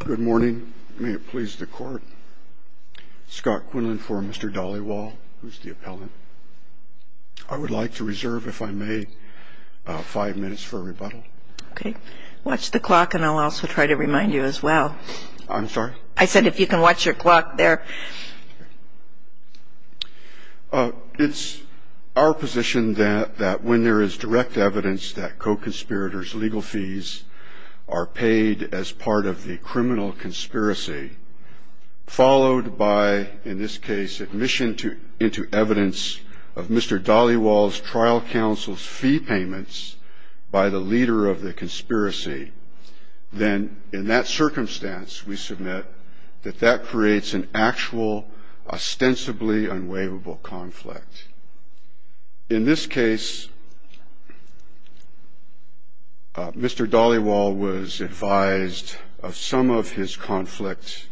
Good morning. May it please the court. Scott Quinlan for Mr. Dhaliwal, who's the appellant. I would like to reserve, if I may, five minutes for a rebuttal. Okay. Watch the clock, and I'll also try to remind you as well. I'm sorry? I said if you can watch your clock there. It's our position that when there is direct evidence that co-conspirators' legal fees are paid as part of the criminal conspiracy, followed by, in this case, admission into evidence of Mr. Dhaliwal's trial counsel's fee payments by the leader of the conspiracy, then in that circumstance we submit that that creates an actual, ostensibly unwaivable conflict. In this case, Mr. Dhaliwal was advised of some of his conflict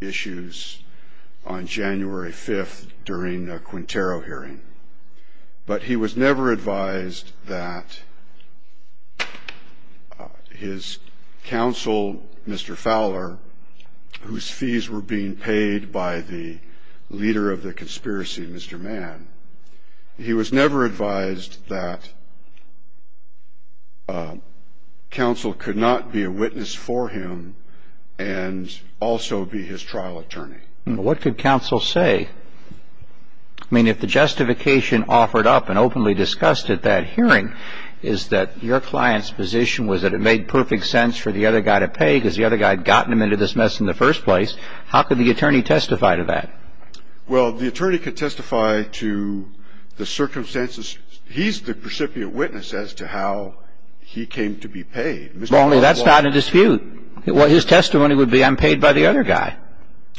issues on January 5th during a Quintero hearing, but he was never advised that his counsel, Mr. Fowler, whose fees were being paid by the leader of the conspiracy, Mr. Mann, he was never advised that counsel could not be a witness for him and also be his trial attorney. What could counsel say? I mean, if the justification offered up and openly discussed at that hearing is that your client's position was that it made perfect sense for the other guy to pay because the other guy had gotten him into this mess in the first place, how could the attorney testify to that? Well, the attorney could testify to the circumstances. He's the precipient witness as to how he came to be paid. Mr. Dhaliwal. That's not a dispute. His testimony would be I'm paid by the other guy.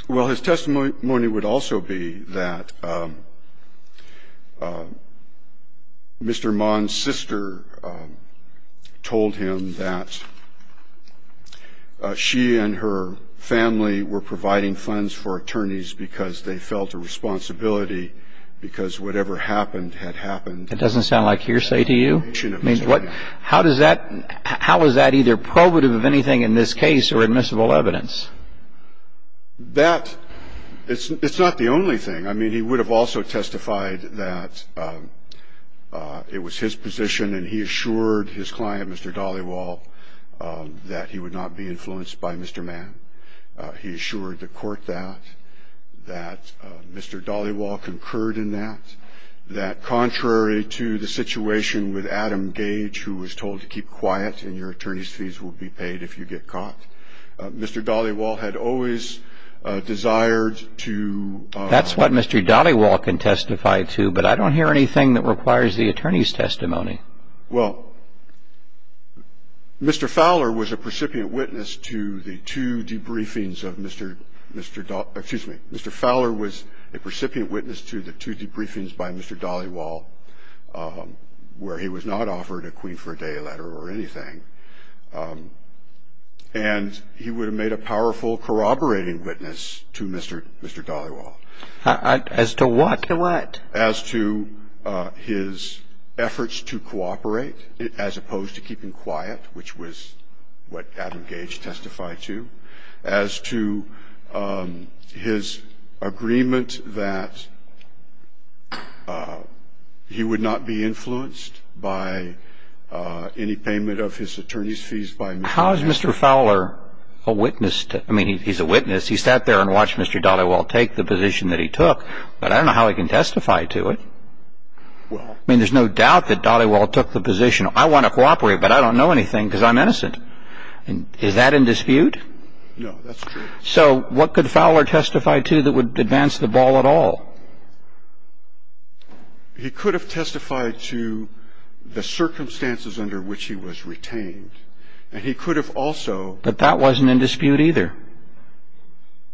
Well, his testimony would also be that Mr. Mann's sister told him that she and her family were providing funds for attorneys because they felt a responsibility because whatever happened had happened. That doesn't sound like hearsay to you? I mean, what – how does that – how is that either probative of anything in this case or admissible evidence? That – it's not the only thing. I mean, he would have also testified that it was his position and he assured his client, Mr. Dhaliwal, that he would not be influenced by Mr. Mann. He assured the court that, that Mr. Dhaliwal concurred in that, that contrary to the situation with Adam Gage who was told to keep quiet and your attorney's fees will be paid if you get caught, Mr. Dhaliwal had always desired to – That's what Mr. Dhaliwal can testify to, but I don't hear anything that requires the attorney's testimony. Well, Mr. Fowler was a precipient witness to the two debriefings of Mr. – excuse me, Mr. Fowler was a precipient witness to the two debriefings by Mr. Dhaliwal where he was not offered a Queen for a Day letter or anything. And he would have made a powerful corroborating witness to Mr. Dhaliwal. As to what? To what? As to his efforts to cooperate as opposed to keeping quiet, which was what Adam Gage testified to. As to his agreement that he would not be influenced by any payment of his attorney's fees by Mr. – How is Mr. Fowler a witness to – I mean, he's a witness. He sat there and watched Mr. Dhaliwal take the position that he took. But I don't know how he can testify to it. Well – I mean, there's no doubt that Dhaliwal took the position. I want to cooperate, but I don't know anything because I'm innocent. Is that in dispute? No, that's true. So what could Fowler testify to that would advance the ball at all? He could have testified to the circumstances under which he was retained. And he could have also – But that wasn't in dispute either.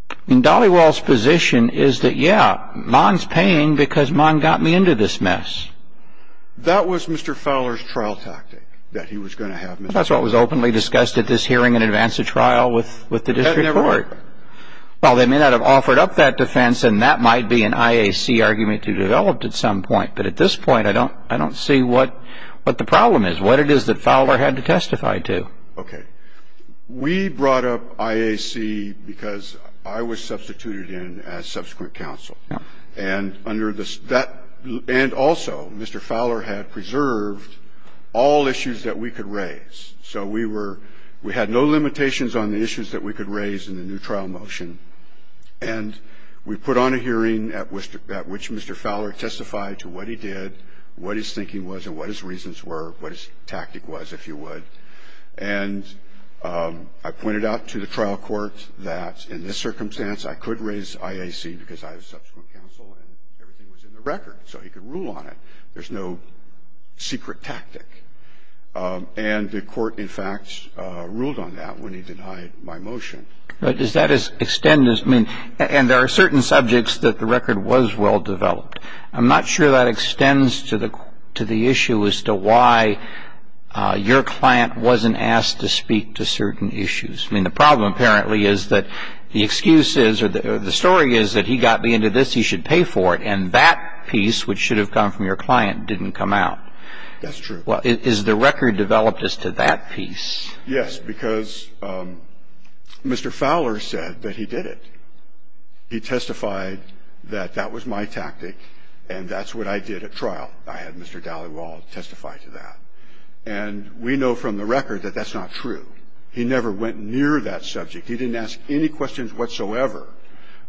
I mean, Dhaliwal's position is that, yeah, Mon's paying because Mon got me into this mess. That was Mr. Fowler's trial tactic, that he was going to have – That's what was openly discussed at this hearing in advance of trial with the district court. That never worked. Well, they may not have offered up that defense, and that might be an IAC argument you developed at some point. But at this point, I don't see what the problem is, what it is that Fowler had to testify to. Okay. We brought up IAC because I was substituted in as subsequent counsel. And under the – that – and also, Mr. Fowler had preserved all issues that we could raise. So we were – we had no limitations on the issues that we could raise in the new trial motion. And we put on a hearing at which Mr. Fowler testified to what he did, what his thinking was, and what his reasons were, what his tactic was, if you would. And I pointed out to the trial court that in this circumstance, I could raise IAC because I was subsequent counsel and everything was in the record, so he could rule on it. There's no secret tactic. And the court, in fact, ruled on that when he denied my motion. But does that extend as – I mean, and there are certain subjects that the record was well-developed. I'm not sure that extends to the issue as to why your client wasn't asked to speak to certain issues. I mean, the problem apparently is that the excuse is – or the story is that he got me into this, he should pay for it, and that piece, which should have come from your client, didn't come out. That's true. Well, is the record developed as to that piece? Yes, because Mr. Fowler said that he did it. He testified that that was my tactic and that's what I did at trial. I had Mr. Dalywald testify to that. And we know from the record that that's not true. He never went near that subject. He didn't ask any questions whatsoever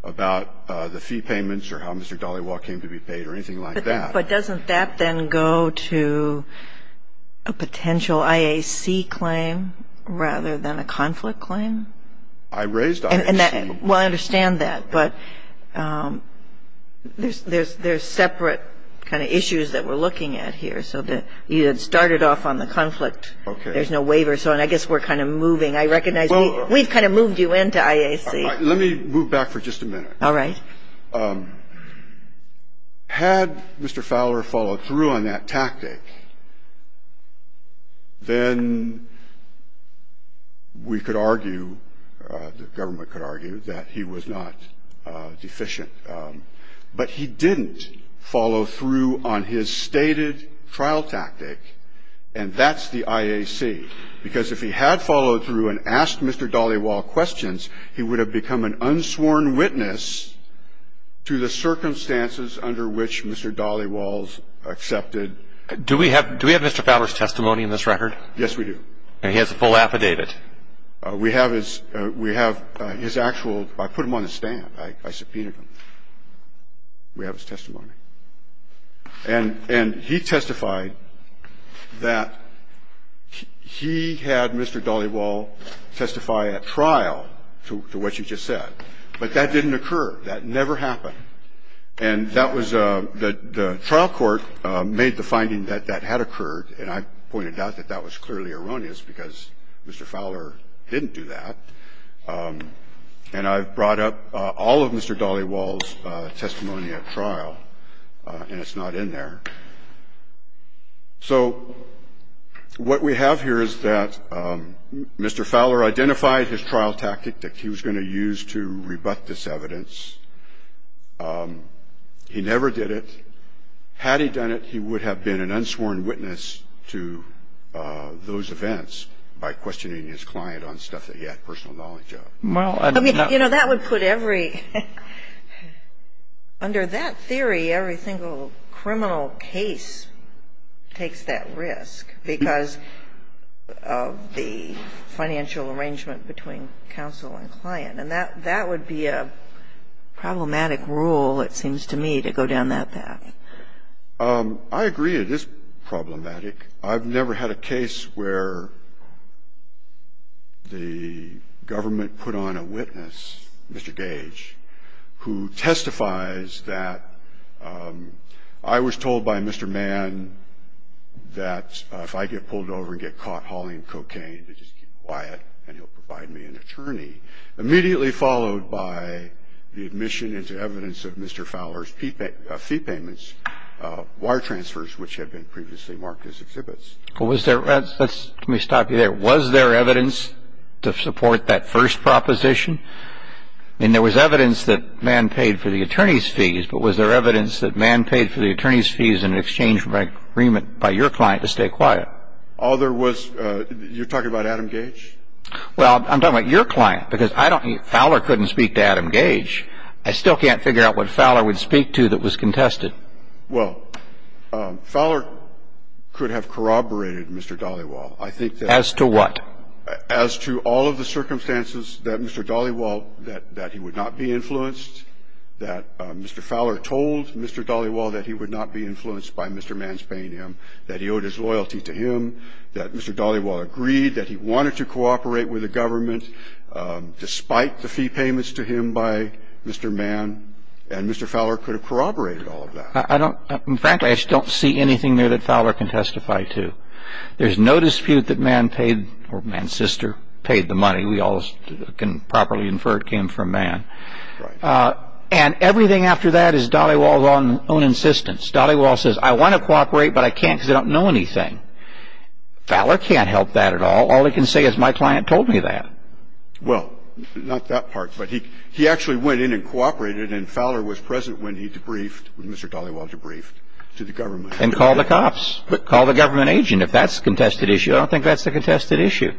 about the fee payments or how Mr. Dalywald came to be paid or anything like that. But doesn't that then go to a potential IAC claim rather than a conflict claim? I raised IAC. Well, I understand that. But there's separate kind of issues that we're looking at here. So you had started off on the conflict. Okay. There's no waiver. So I guess we're kind of moving. I recognize we've kind of moved you into IAC. Let me move back for just a minute. All right. Had Mr. Fowler followed through on that tactic, then we could argue, the government could argue that he was not deficient. But he didn't follow through on his stated trial tactic. And that's the IAC. Because if he had followed through and asked Mr. Dalywald questions, he would have become an unsworn witness to the circumstances under which Mr. Dalywald accepted. Do we have Mr. Fowler's testimony in this record? Yes, we do. And he has a full affidavit. We have his actual ‑‑ I put him on the stand. I subpoenaed him. We have his testimony. And he testified that he had Mr. Dalywald testify at trial to what you just said. But that didn't occur. That never happened. And that was the trial court made the finding that that had occurred, and I pointed out that that was clearly erroneous because Mr. Fowler didn't do that. And I've brought up all of Mr. Dalywald's testimony at trial, and it's not in there. So what we have here is that Mr. Fowler identified his trial tactic that he was going to use to rebut this evidence. He never did it. Had he done it, he would have been an unsworn witness to those events by questioning his client on stuff that he had personal knowledge of. I mean, you know, that would put every ‑‑ under that theory, every single criminal case takes that risk because of the financial arrangement between counsel and client. And that would be a problematic rule, it seems to me, to go down that path. I agree it is problematic. I've never had a case where the government put on a witness, Mr. Gage, who testifies that I was told by Mr. Mann that if I get pulled over and get caught hauling cocaine, to just keep quiet and he'll provide me an attorney, immediately followed by the admission into evidence of Mr. Fowler's fee payments, he was going to be charged with being an unwitten witness. He was going to have had his fee payments, his wire transfers which had been previously marked as exhibits. Well, was there ‑‑ let me stop you there. Was there evidence to support that first proposition? I mean, there was evidence that Mann paid for the attorney's fees, but was there evidence that Mann paid for the attorney's fees in exchange for an agreement by your client to stay quiet? All there was ‑‑ you're talking about Adam Gage? Well, I'm talking about your client because I don't ‑‑ Fowler couldn't speak to Adam Gage. I still can't figure out what Fowler would speak to that was contested. Well, Fowler could have corroborated Mr. Dhaliwal. I think that ‑‑ As to what? As to all of the circumstances that Mr. Dhaliwal, that he would not be influenced, that Mr. Fowler told Mr. Dhaliwal that he would not be influenced by Mr. Mann's paying him, that he owed his loyalty to him, that Mr. Dhaliwal agreed, that he wanted to cooperate with the government despite the fee payments to him by Mr. Mann, and Mr. Fowler could have corroborated all of that. I don't ‑‑ frankly, I just don't see anything there that Fowler can testify to. There's no dispute that Mann paid, or Mann's sister, paid the money. We all can properly infer it came from Mann. Right. And everything after that is Dhaliwal's own insistence. Dhaliwal says, I want to cooperate, but I can't because I don't know anything. Fowler can't help that at all. All he can say is, my client told me that. Well, not that part, but he actually went in and cooperated, and Fowler was present when he debriefed, when Mr. Dhaliwal debriefed, to the government. And called the cops, called the government agent. If that's the contested issue, I don't think that's the contested issue.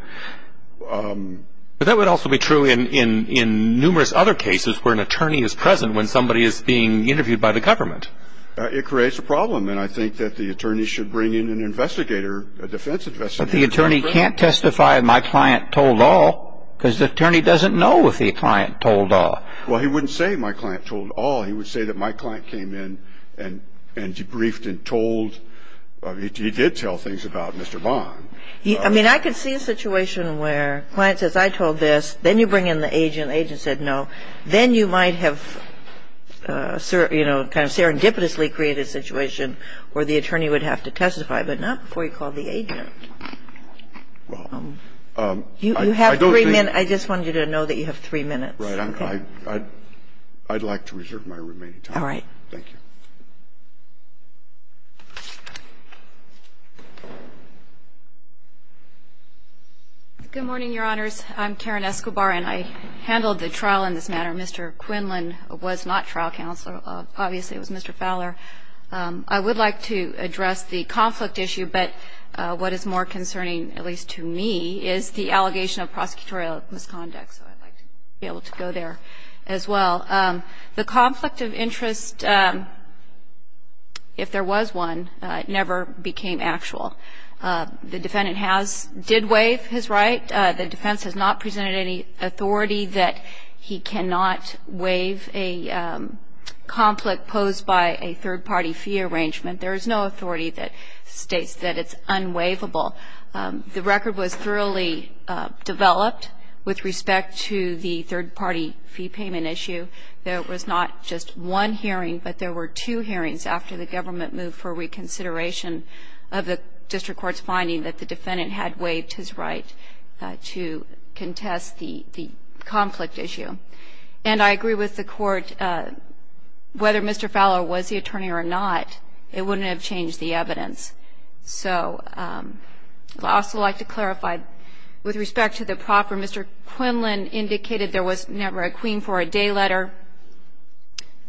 But that would also be true in numerous other cases where an attorney is present when somebody is being interviewed by the government. It creates a problem, and I think that the attorney should bring in an investigator, a defense investigator. But the attorney can't testify, my client told all, because the attorney doesn't know if the client told all. Well, he wouldn't say, my client told all. He would say that my client came in and debriefed and told. He did tell things about Mr. Bond. I mean, I could see a situation where a client says, I told this. Then you bring in the agent, the agent said no. Then you might have, you know, kind of serendipitously created a situation where the attorney would have to testify, but not before you call the agent. Well, I don't think. You have three minutes. I just wanted you to know that you have three minutes. Right. I'd like to reserve my remaining time. All right. Thank you. Good morning, Your Honors. I'm Karen Escobar, and I handled the trial in this manner. Mr. Quinlan was not trial counsel. Obviously, it was Mr. Fowler. I would like to address the conflict issue, but what is more concerning, at least to me, is the allegation of prosecutorial misconduct. So I'd like to be able to go there as well. The conflict of interest, if there was one, never became actual. The defendant has, did waive his right. The defense has not presented any authority that he cannot waive a conflict posed by a third-party fee arrangement. There is no authority that states that it's unwaivable. The record was thoroughly developed with respect to the third-party fee payment issue. There was not just one hearing, but there were two hearings after the government moved for reconsideration of the district court's finding that the defendant had waived his right to contest the conflict issue. And I agree with the court, whether Mr. Fowler was the attorney or not, it wouldn't have changed the evidence. So I'd also like to clarify, with respect to the proffer, Mr. Quinlan indicated there was never a queen for a day letter.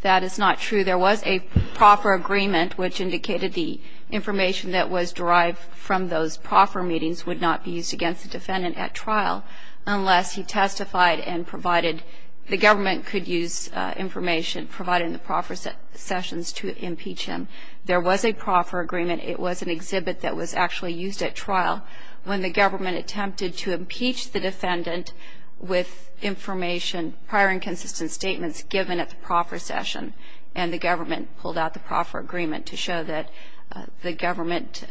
That is not true. There was a proffer agreement, which indicated the information that was derived from those proffer meetings would not be used against the defendant at trial unless he testified and provided the government could use information provided in the proffer sessions to impeach him. There was a proffer agreement. It was an exhibit that was actually used at trial. When the government attempted to impeach the defendant with information, the government pulled out the proffer agreement to show that the government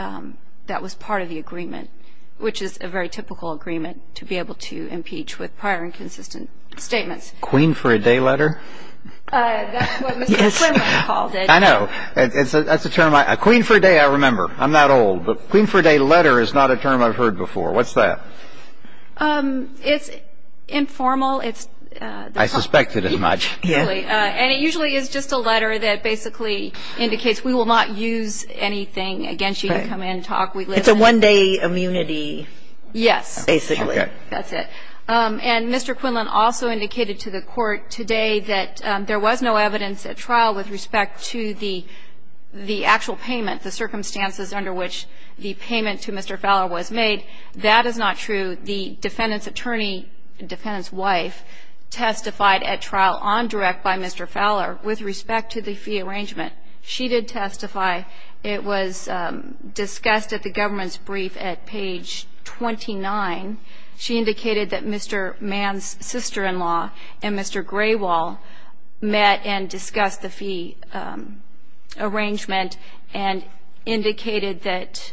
that was part of the agreement, which is a very typical agreement to be able to impeach with prior and consistent statements. Queen for a day letter? That's what Mr. Quinlan called it. I know. That's a term I – queen for a day, I remember. I'm not old. But queen for a day letter is not a term I've heard before. What's that? It's informal. I suspected as much. And it usually is just a letter that basically indicates we will not use anything against you to come in and talk. It's a one-day immunity. Yes. Basically. That's it. And Mr. Quinlan also indicated to the Court today that there was no evidence at trial with respect to the actual payment, the circumstances under which the payment to Mr. Fowler was made. That is not true. The defendant's attorney, defendant's wife, testified at trial on direct by Mr. Fowler with respect to the fee arrangement. She did testify. It was discussed at the government's brief at page 29. She indicated that Mr. Mann's sister-in-law and Mr. Graywall met and discussed the fee arrangement and indicated that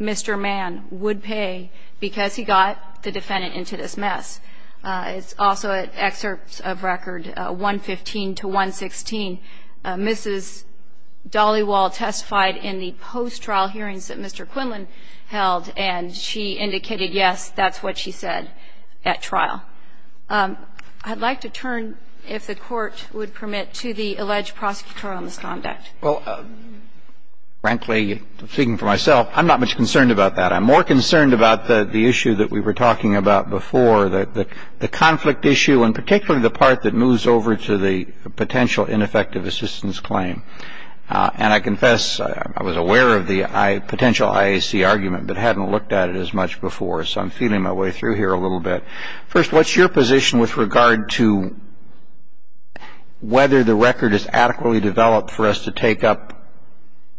Mr. Mann would pay because he got the defendant into this mess. It's also at excerpts of record 115 to 116. Mrs. Dollywall testified in the post-trial hearings that Mr. Quinlan held, and she indicated, yes, that's what she said at trial. I'd like to turn, if the Court would permit, to the alleged prosecutorial misconduct. Well, frankly, speaking for myself, I'm not much concerned about that. I'm more concerned about the issue that we were talking about before, the conflict issue, and particularly the part that moves over to the potential ineffective assistance claim. And I confess I was aware of the potential IAC argument, but hadn't looked at it as much before, so I'm feeling my way through here a little bit. First, what's your position with regard to whether the record is adequately developed for us to take up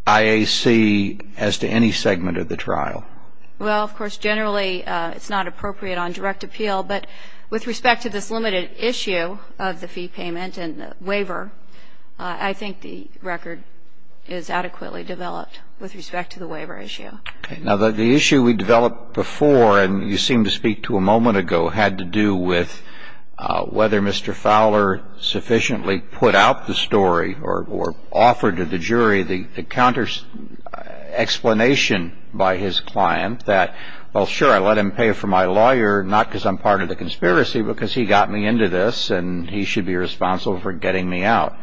IAC as to any segment of the trial? Well, of course, generally it's not appropriate on direct appeal. But with respect to this limited issue of the fee payment and the waiver, I think the record is adequately developed with respect to the waiver issue. Okay. Now, the issue we developed before, and you seemed to speak to a moment ago, had to do with whether Mr. Fowler sufficiently put out the story or offered to the jury the counter explanation by his client that, well, sure, I'll let him pay for my lawyer, not because I'm part of the conspiracy, but because he got me into this and he should be responsible for getting me out.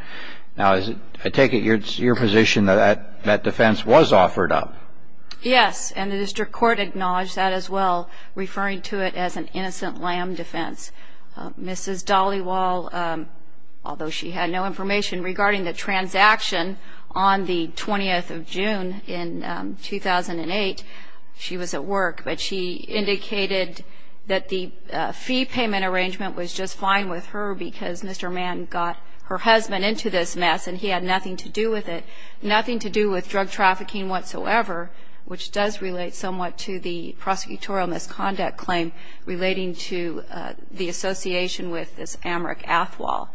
Now, I take it it's your position that that defense was offered up? Yes, and the district court acknowledged that as well, referring to it as an innocent lamb defense. Mrs. Dollywall, although she had no information regarding the transaction on the 20th of June in 2008, she was at work, but she indicated that the fee payment arrangement was just fine with her because Mr. Mann got her husband into this mess and he had nothing to do with it, nothing to do with drug trafficking whatsoever, which does relate somewhat to the prosecutorial misconduct claim relating to the association with this Amrik Athwal.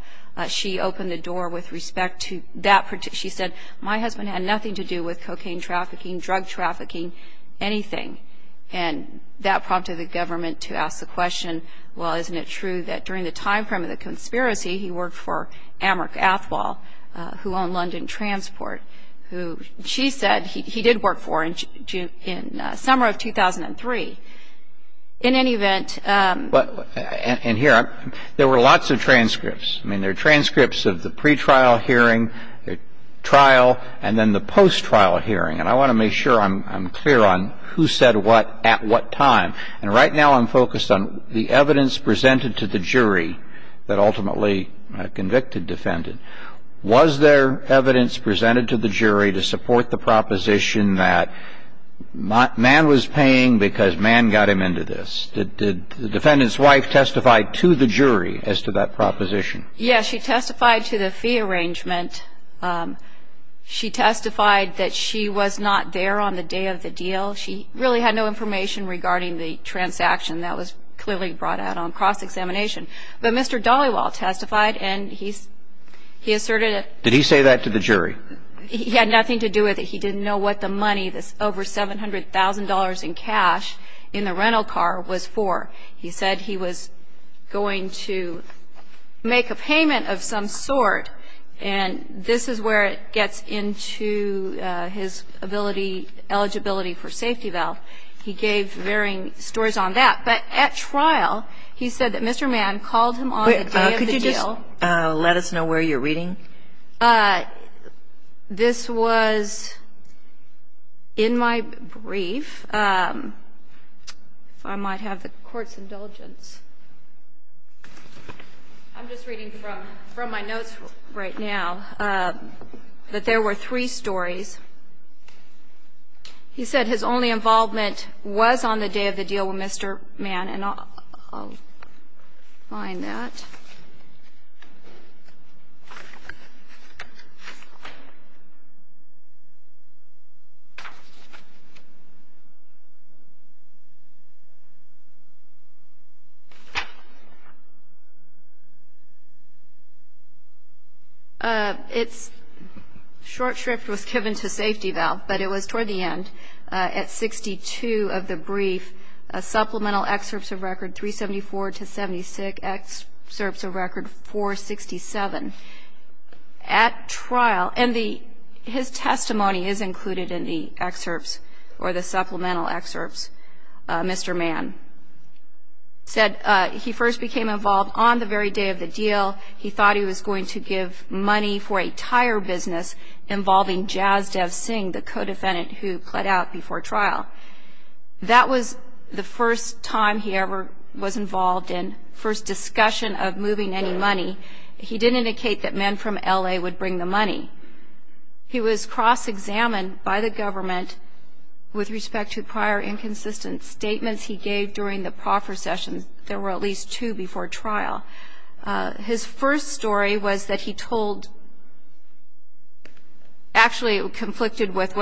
She opened the door with respect to that. She said, my husband had nothing to do with cocaine trafficking, drug trafficking, anything, and that prompted the government to ask the question, well, isn't it true that during the time frame of the conspiracy he worked for Amrik Athwal, who owned London Transport, who she said he did work for in summer of 2003, in any event. And here, there were lots of transcripts. I mean, there are transcripts of the pretrial hearing, the trial, and then the post-trial hearing, and I want to make sure I'm clear on who said what at what time, and right now I'm focused on the evidence presented to the jury that ultimately convicted defendant. Was there evidence presented to the jury to support the proposition that Mann was paying because Mann got him into this? Did the defendant's wife testify to the jury as to that proposition? Yes, she testified to the fee arrangement. She testified that she was not there on the day of the deal. She really had no information regarding the transaction. That was clearly brought out on cross-examination. But Mr. Dollywall testified, and he asserted it. Did he say that to the jury? He had nothing to do with it. He didn't know what the money, this over $700,000 in cash in the rental car was for. He said he was going to make a payment of some sort, and this is where it gets into his ability, eligibility for safety valve. He gave varying stories on that. But at trial, he said that Mr. Mann called him on the day of the deal. Could you just let us know where you're reading? This was in my brief. If I might have the Court's indulgence. I'm just reading from my notes right now that there were three stories. He said his only involvement was on the day of the deal with Mr. Mann. And I'll find that. It's short shrift was given to safety valve, but it was toward the end. At 62 of the brief, supplemental excerpts of record 374 to 76, excerpts of record 467. At trial, and his testimony is included in the excerpts or the supplemental excerpts. Mr. Mann said he first became involved on the very day of the deal. He thought he was going to give money for a tire business involving Jazdev Singh, the co-defendant who pled out before trial. That was the first time he ever was involved in first discussion of moving any money. He didn't indicate that men from L.A. would bring the money. He was cross-examined by the government with respect to prior inconsistent statements he gave during the proffer session. There were at least two before trial. His first story was that he told, actually it conflicted with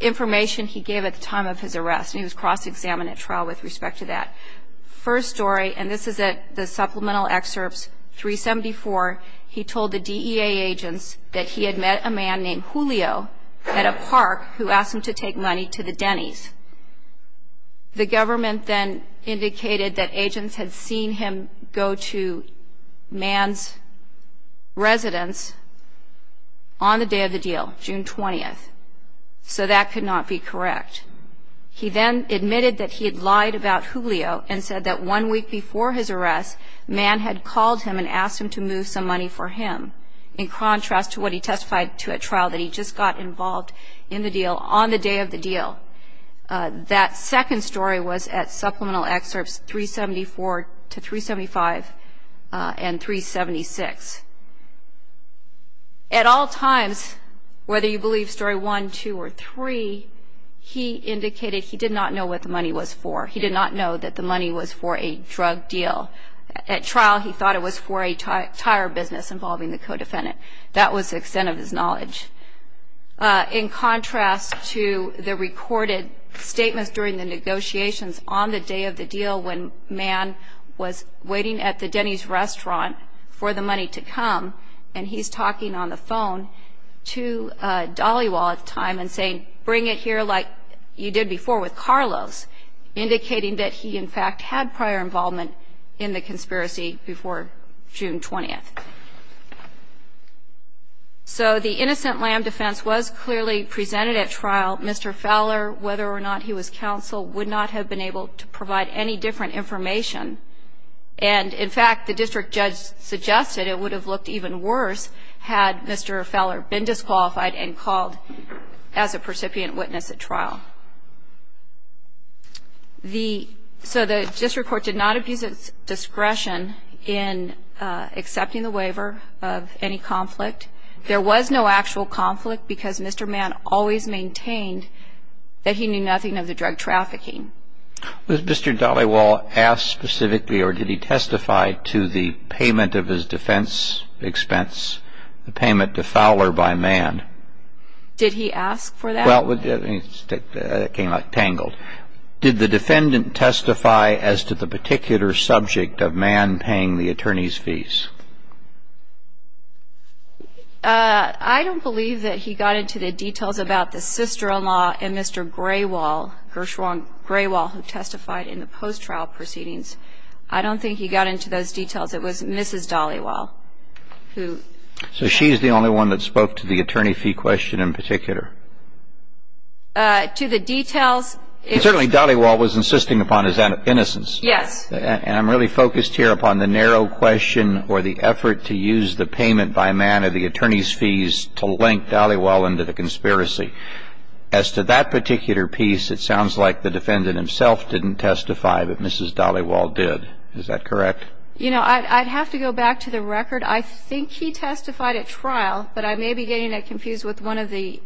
information he gave at the time of his arrest. He was cross-examined at trial with respect to that. On June 24, he told the DEA agents that he had met a man named Julio at a park who asked him to take money to the Denny's. The government then indicated that agents had seen him go to Mann's residence on the day of the deal, June 20. So that could not be correct. He then admitted that he had lied about Julio and said that one week before his arrest, Mann had called him and asked him to move some money for him, in contrast to what he testified to at trial that he just got involved in the deal on the day of the deal. That second story was at supplemental excerpts 374 to 375 and 376. At all times, whether you believe story one, two, or three, he indicated he did not know what the money was for. He did not know that the money was for a drug deal. At trial, he thought it was for a tire business involving the co-defendant. In contrast to the recorded statements during the negotiations on the day of the deal, when Mann was waiting at the Denny's restaurant for the money to come, and he's talking on the phone to Dollywall at the time and saying, bring it here like you did before with Carlos, indicating that he, in fact, had prior involvement in the conspiracy before June 20. So the innocent lamb defense was clearly presented at trial. Mr. Fowler, whether or not he was counsel, would not have been able to provide any different information. And, in fact, the district judge suggested it would have looked even worse had Mr. Fowler been disqualified and called as a percipient witness at trial. So the district court did not abuse its discretion in accepting the waiver of any conflict. There was no actual conflict because Mr. Mann always maintained that he knew nothing of the drug trafficking. Was Mr. Dollywall asked specifically or did he testify to the payment of his defense expense, the payment to Fowler by Mann? Did he ask for that? Well, it came out tangled. Did the defendant testify as to the particular subject of Mann paying the attorney's fees? I don't believe that he got into the details about the sister-in-law and Mr. Graywall, Gershwang Graywall, who testified in the post-trial proceedings. I don't think he got into those details. It was Mrs. Dollywall who testified. So she's the only one that spoke to the attorney fee question in particular? To the details, it's… And I'm really focused here upon the narrow question or the effort to use the payment by Mann of the attorney's fees to link Dollywall into the conspiracy. As to that particular piece, it sounds like the defendant himself didn't testify, but Mrs. Dollywall did. Is that correct? You know, I'd have to go back to the record. I think he testified at trial, but I may be getting it confused with one of the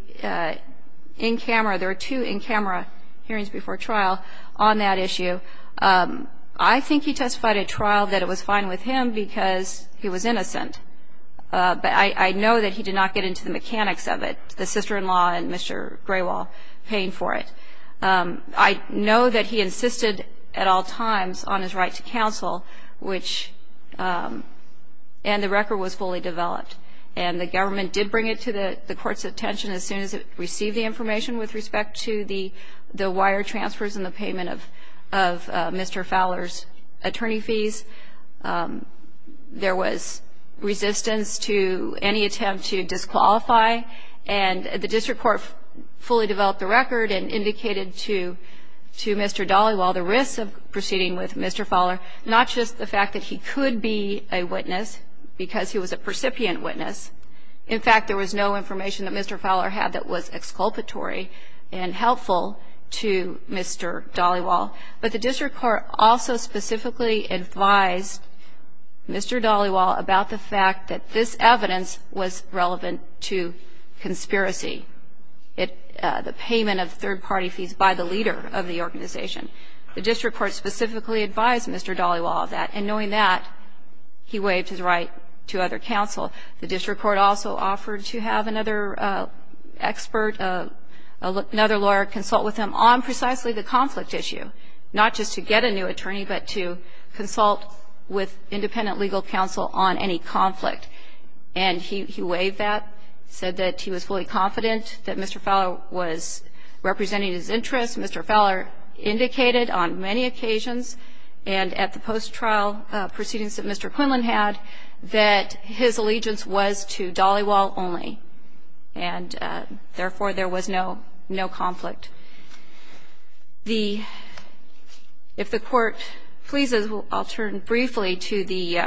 in-camera. There were two in-camera hearings before trial on that issue. I think he testified at trial that it was fine with him because he was innocent. But I know that he did not get into the mechanics of it, the sister-in-law and Mr. Graywall paying for it. I know that he insisted at all times on his right to counsel, which… and the record was fully developed. And the government did bring it to the court's attention as soon as it received the information with respect to the wire transfers and the payment of Mr. Fowler's attorney fees. There was resistance to any attempt to disqualify. And the district court fully developed the record and indicated to Mr. Dollywall the risks of proceeding with Mr. Fowler, not just the fact that he could be a witness because he was a percipient witness. In fact, there was no information that Mr. Fowler had that was exculpatory and helpful to Mr. Dollywall. But the district court also specifically advised Mr. Dollywall about the fact that this evidence was relevant to conspiracy, the payment of third-party fees by the leader of the organization. The district court specifically advised Mr. Dollywall of that. And knowing that, he waived his right to other counsel. The district court also offered to have another expert, another lawyer, consult with him on precisely the conflict issue, not just to get a new attorney, but to consult with independent legal counsel on any conflict. And he waived that, said that he was fully confident that Mr. Fowler was representing his interests. Mr. Fowler indicated on many occasions and at the post-trial proceedings that Mr. Quinlan had that his allegiance was to Dollywall only, and therefore there was no conflict. If the Court pleases, I'll turn briefly to the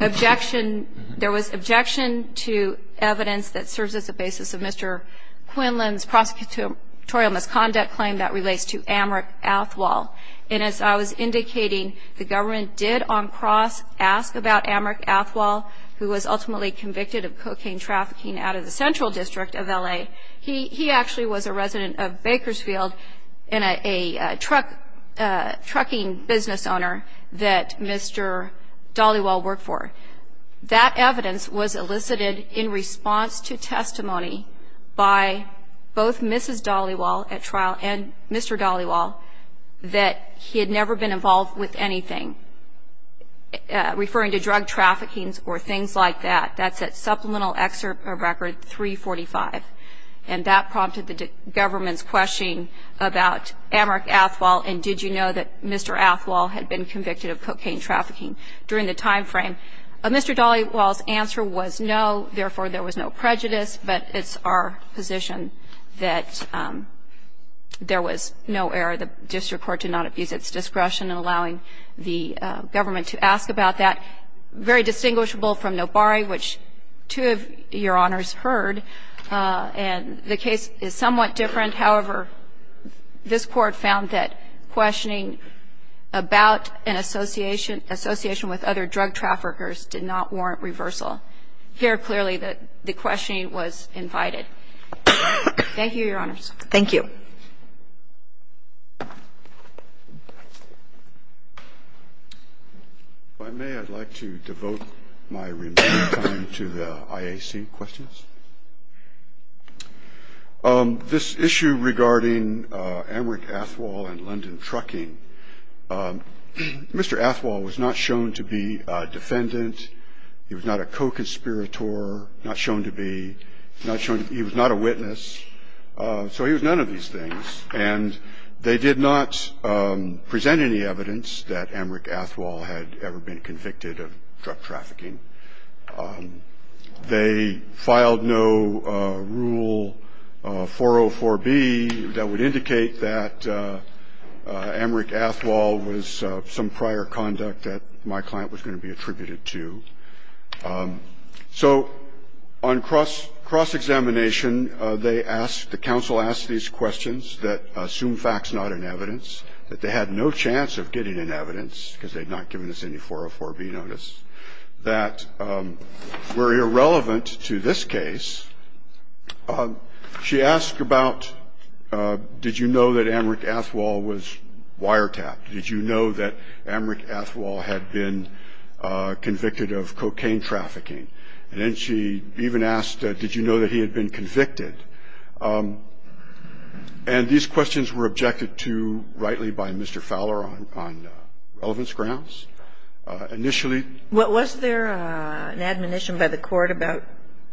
objection. There was objection to evidence that serves as a basis of Mr. Quinlan's prosecutorial misconduct claim that relates to Amrik Athwal. And as I was indicating, the government did on cross ask about Amrik Athwal, who was ultimately convicted of cocaine trafficking out of the Central District of L.A. He actually was a resident of Bakersfield and a trucking business owner that Mr. Dollywall worked for. That evidence was elicited in response to testimony by both Mrs. Dollywall at trial and Mr. Dollywall that he had never been involved with anything, referring to drug traffickings or things like that. That's at Supplemental Excerpt of Record 345, and that prompted the government's question about Amrik Athwal and did you know that Mr. Athwal had been convicted of cocaine trafficking during the time frame. Mr. Dollywall's answer was no, therefore there was no prejudice, but it's our position that there was no error. The district court did not abuse its discretion in allowing the government to ask about that. It was very distinguishable from Nobare, which two of Your Honors heard. And the case is somewhat different. However, this Court found that questioning about an association with other drug traffickers did not warrant reversal. Here, clearly, the questioning was invited. Thank you, Your Honors. Thank you. If I may, I'd like to devote my remaining time to the IAC questions. This issue regarding Amrik Athwal and London Trucking, Mr. Athwal was not shown to be a defendant. He was not a co-conspirator, not shown to be he was not a witness. So he was none of these things. And they did not present any evidence that Amrik Athwal had ever been convicted of drug trafficking. They filed no Rule 404B that would indicate that Amrik Athwal was some prior conduct that my client was going to be attributed to. So on cross-examination, they asked, the counsel asked these questions that assumed facts, not an evidence, that they had no chance of getting an evidence, because they had not given us any 404B notice, that were irrelevant to this case. She asked about, did you know that Amrik Athwal was wiretapped? Did you know that Amrik Athwal had been convicted of cocaine trafficking? And then she even asked, did you know that he had been convicted? And these questions were objected to rightly by Mr. Fowler on relevance grounds. Initially ‑‑ Was there an admonition by the court about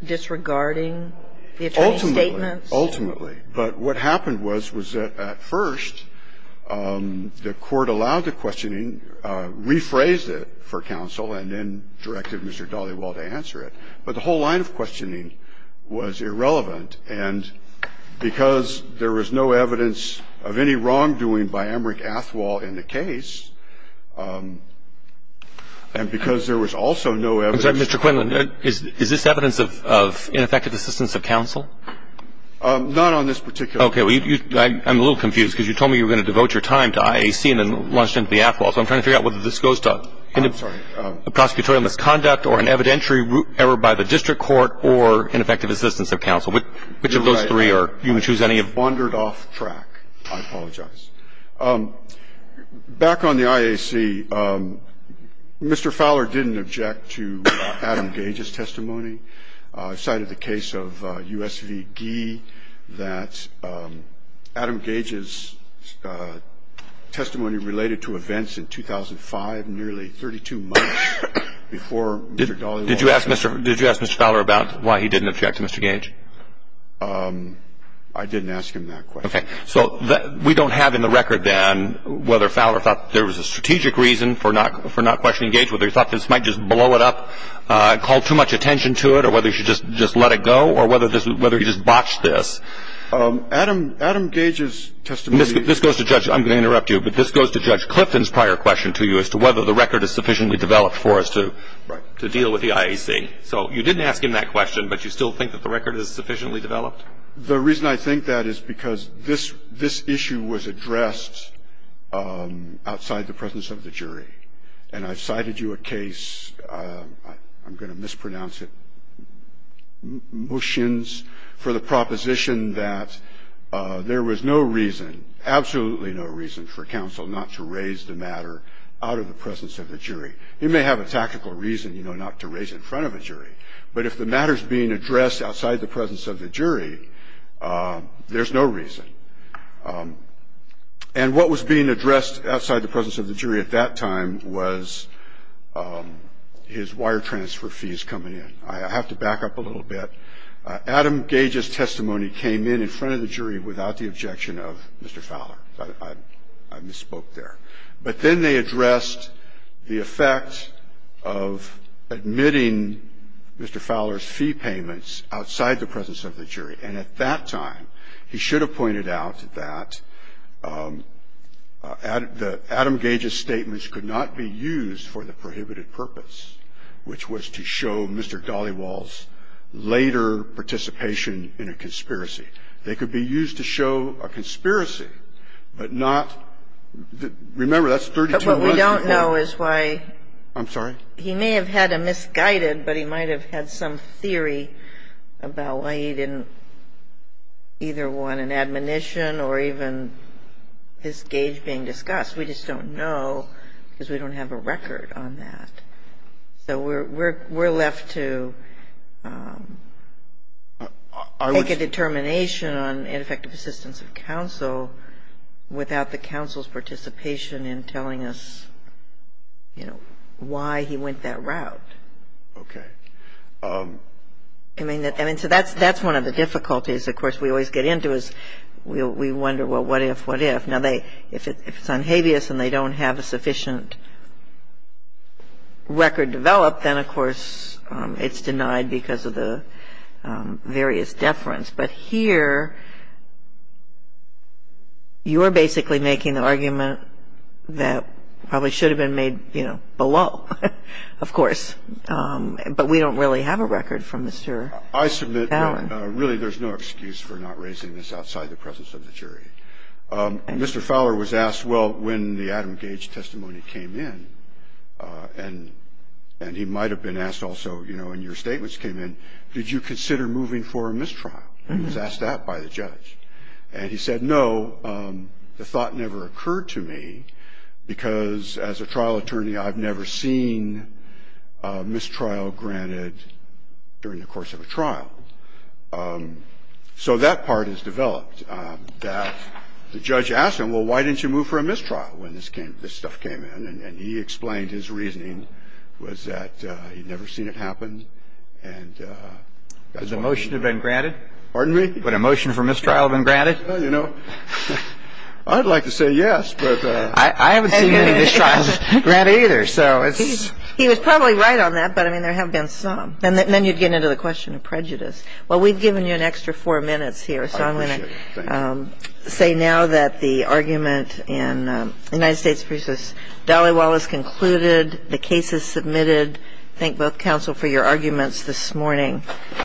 disregarding the attorney's statements? Ultimately. Ultimately. But what happened was, was that at first, the court allowed the questioning, rephrased it for counsel, and then directed Mr. Dollywell to answer it. But the whole line of questioning was irrelevant. And because there was no evidence of any wrongdoing by Amrik Athwal in the case, and because there was also no evidence ‑‑ I'm sorry. I'm sorry. I apologize. I apologize. I am not on this particular point. Okay. Well, I'm a little confused because you told me you were going to devote your time to IAC, and then launched into the Athwal. So I'm trying to figure out whether this goes to ‑‑ I'm sorry. ‑‑a prosecutorial misconduct or an evidentiary error by the district court or an effective assistance of counsel. Which of those three are ‑‑ You're right. You can choose any of them. I wandered off track. I apologize. Back on the IAC, Mr. Fowler didn't object to Adam Gage's testimony. I cited the case of U.S. v. Gee that Adam Gage's testimony related to events in 2005, nearly 32 months before Mr. Dhaliwal ‑‑ Did you ask Mr. Fowler about why he didn't object to Mr. Gage? I didn't ask him that question. Okay. So we don't have in the record then whether Fowler thought there was a strategic reason for not questioning Gage, whether he thought this might just blow it up, call too much attention to it, or whether he should just let it go, or whether he just botched this. Adam Gage's testimony ‑‑ This goes to Judge ‑‑ I'm going to interrupt you, but this goes to Judge Clifton's prior question to you as to whether the record is sufficiently developed for us to deal with the IAC. So you didn't ask him that question, but you still think that the record is sufficiently developed? The reason I think that is because this issue was addressed outside the presence of the jury. And I cited you a case, I'm going to mispronounce it, motions for the proposition that there was no reason, absolutely no reason, for counsel not to raise the matter out of the presence of the jury. He may have a tactical reason, you know, not to raise it in front of a jury, but if the matter is being addressed outside the presence of the jury, there's no reason. And what was being addressed outside the presence of the jury at that time was his wire transfer fees coming in. I have to back up a little bit. Adam Gage's testimony came in in front of the jury without the objection of Mr. Fowler. I misspoke there. But then they addressed the effect of admitting Mr. Fowler's fee payments outside the presence of the jury. And at that time, he should have pointed out that Adam Gage's statements could not be used for the prohibited purpose, which was to show Mr. Dollywall's later participation in a conspiracy. They could be used to show a conspiracy, but not the – remember, that's 3215. But what we don't know is why. I'm sorry? He may have had a misguided, but he might have had some theory about why he didn't either want an admonition or even his gage being discussed. We just don't know because we don't have a record on that. So we're left to make a determination on ineffective assistance of counsel without the counsel's participation in telling us, you know, why he went that route. Okay. I mean, so that's one of the difficulties, of course, we always get into is we wonder, well, what if, what if. Now, if it's unhabeas and they don't have a sufficient record developed, then, of course, it's denied because of the various deference. But here, you're basically making the argument that probably should have been made, you know, below, of course. But we don't really have a record from Mr. Allen. I submit, really, there's no excuse for not raising this outside the presence of the jury. Mr. Fowler was asked, well, when the Adam Gage testimony came in, and he might have been asked also, you know, when your statements came in, did you consider moving for a mistrial? He was asked that by the judge. And he said, no, the thought never occurred to me because, as a trial attorney, I've never seen mistrial granted during the course of a trial. So that part is developed, that the judge asked him, well, why didn't you move for a mistrial when this stuff came in? And he explained his reasoning was that he'd never seen it happen. And that's what he did. Has a motion been granted? Pardon me? Would a motion for mistrial have been granted? Well, you know, I'd like to say yes, but. I haven't seen any mistrials granted either, so it's. He was probably right on that, but, I mean, there have been some. And then you'd get into the question of prejudice. Well, we've given you an extra four minutes here. I appreciate it. So I'm going to say now that the argument in the United States versus Dolly Wallace concluded. The case is submitted. Thank both counsel for your arguments this morning.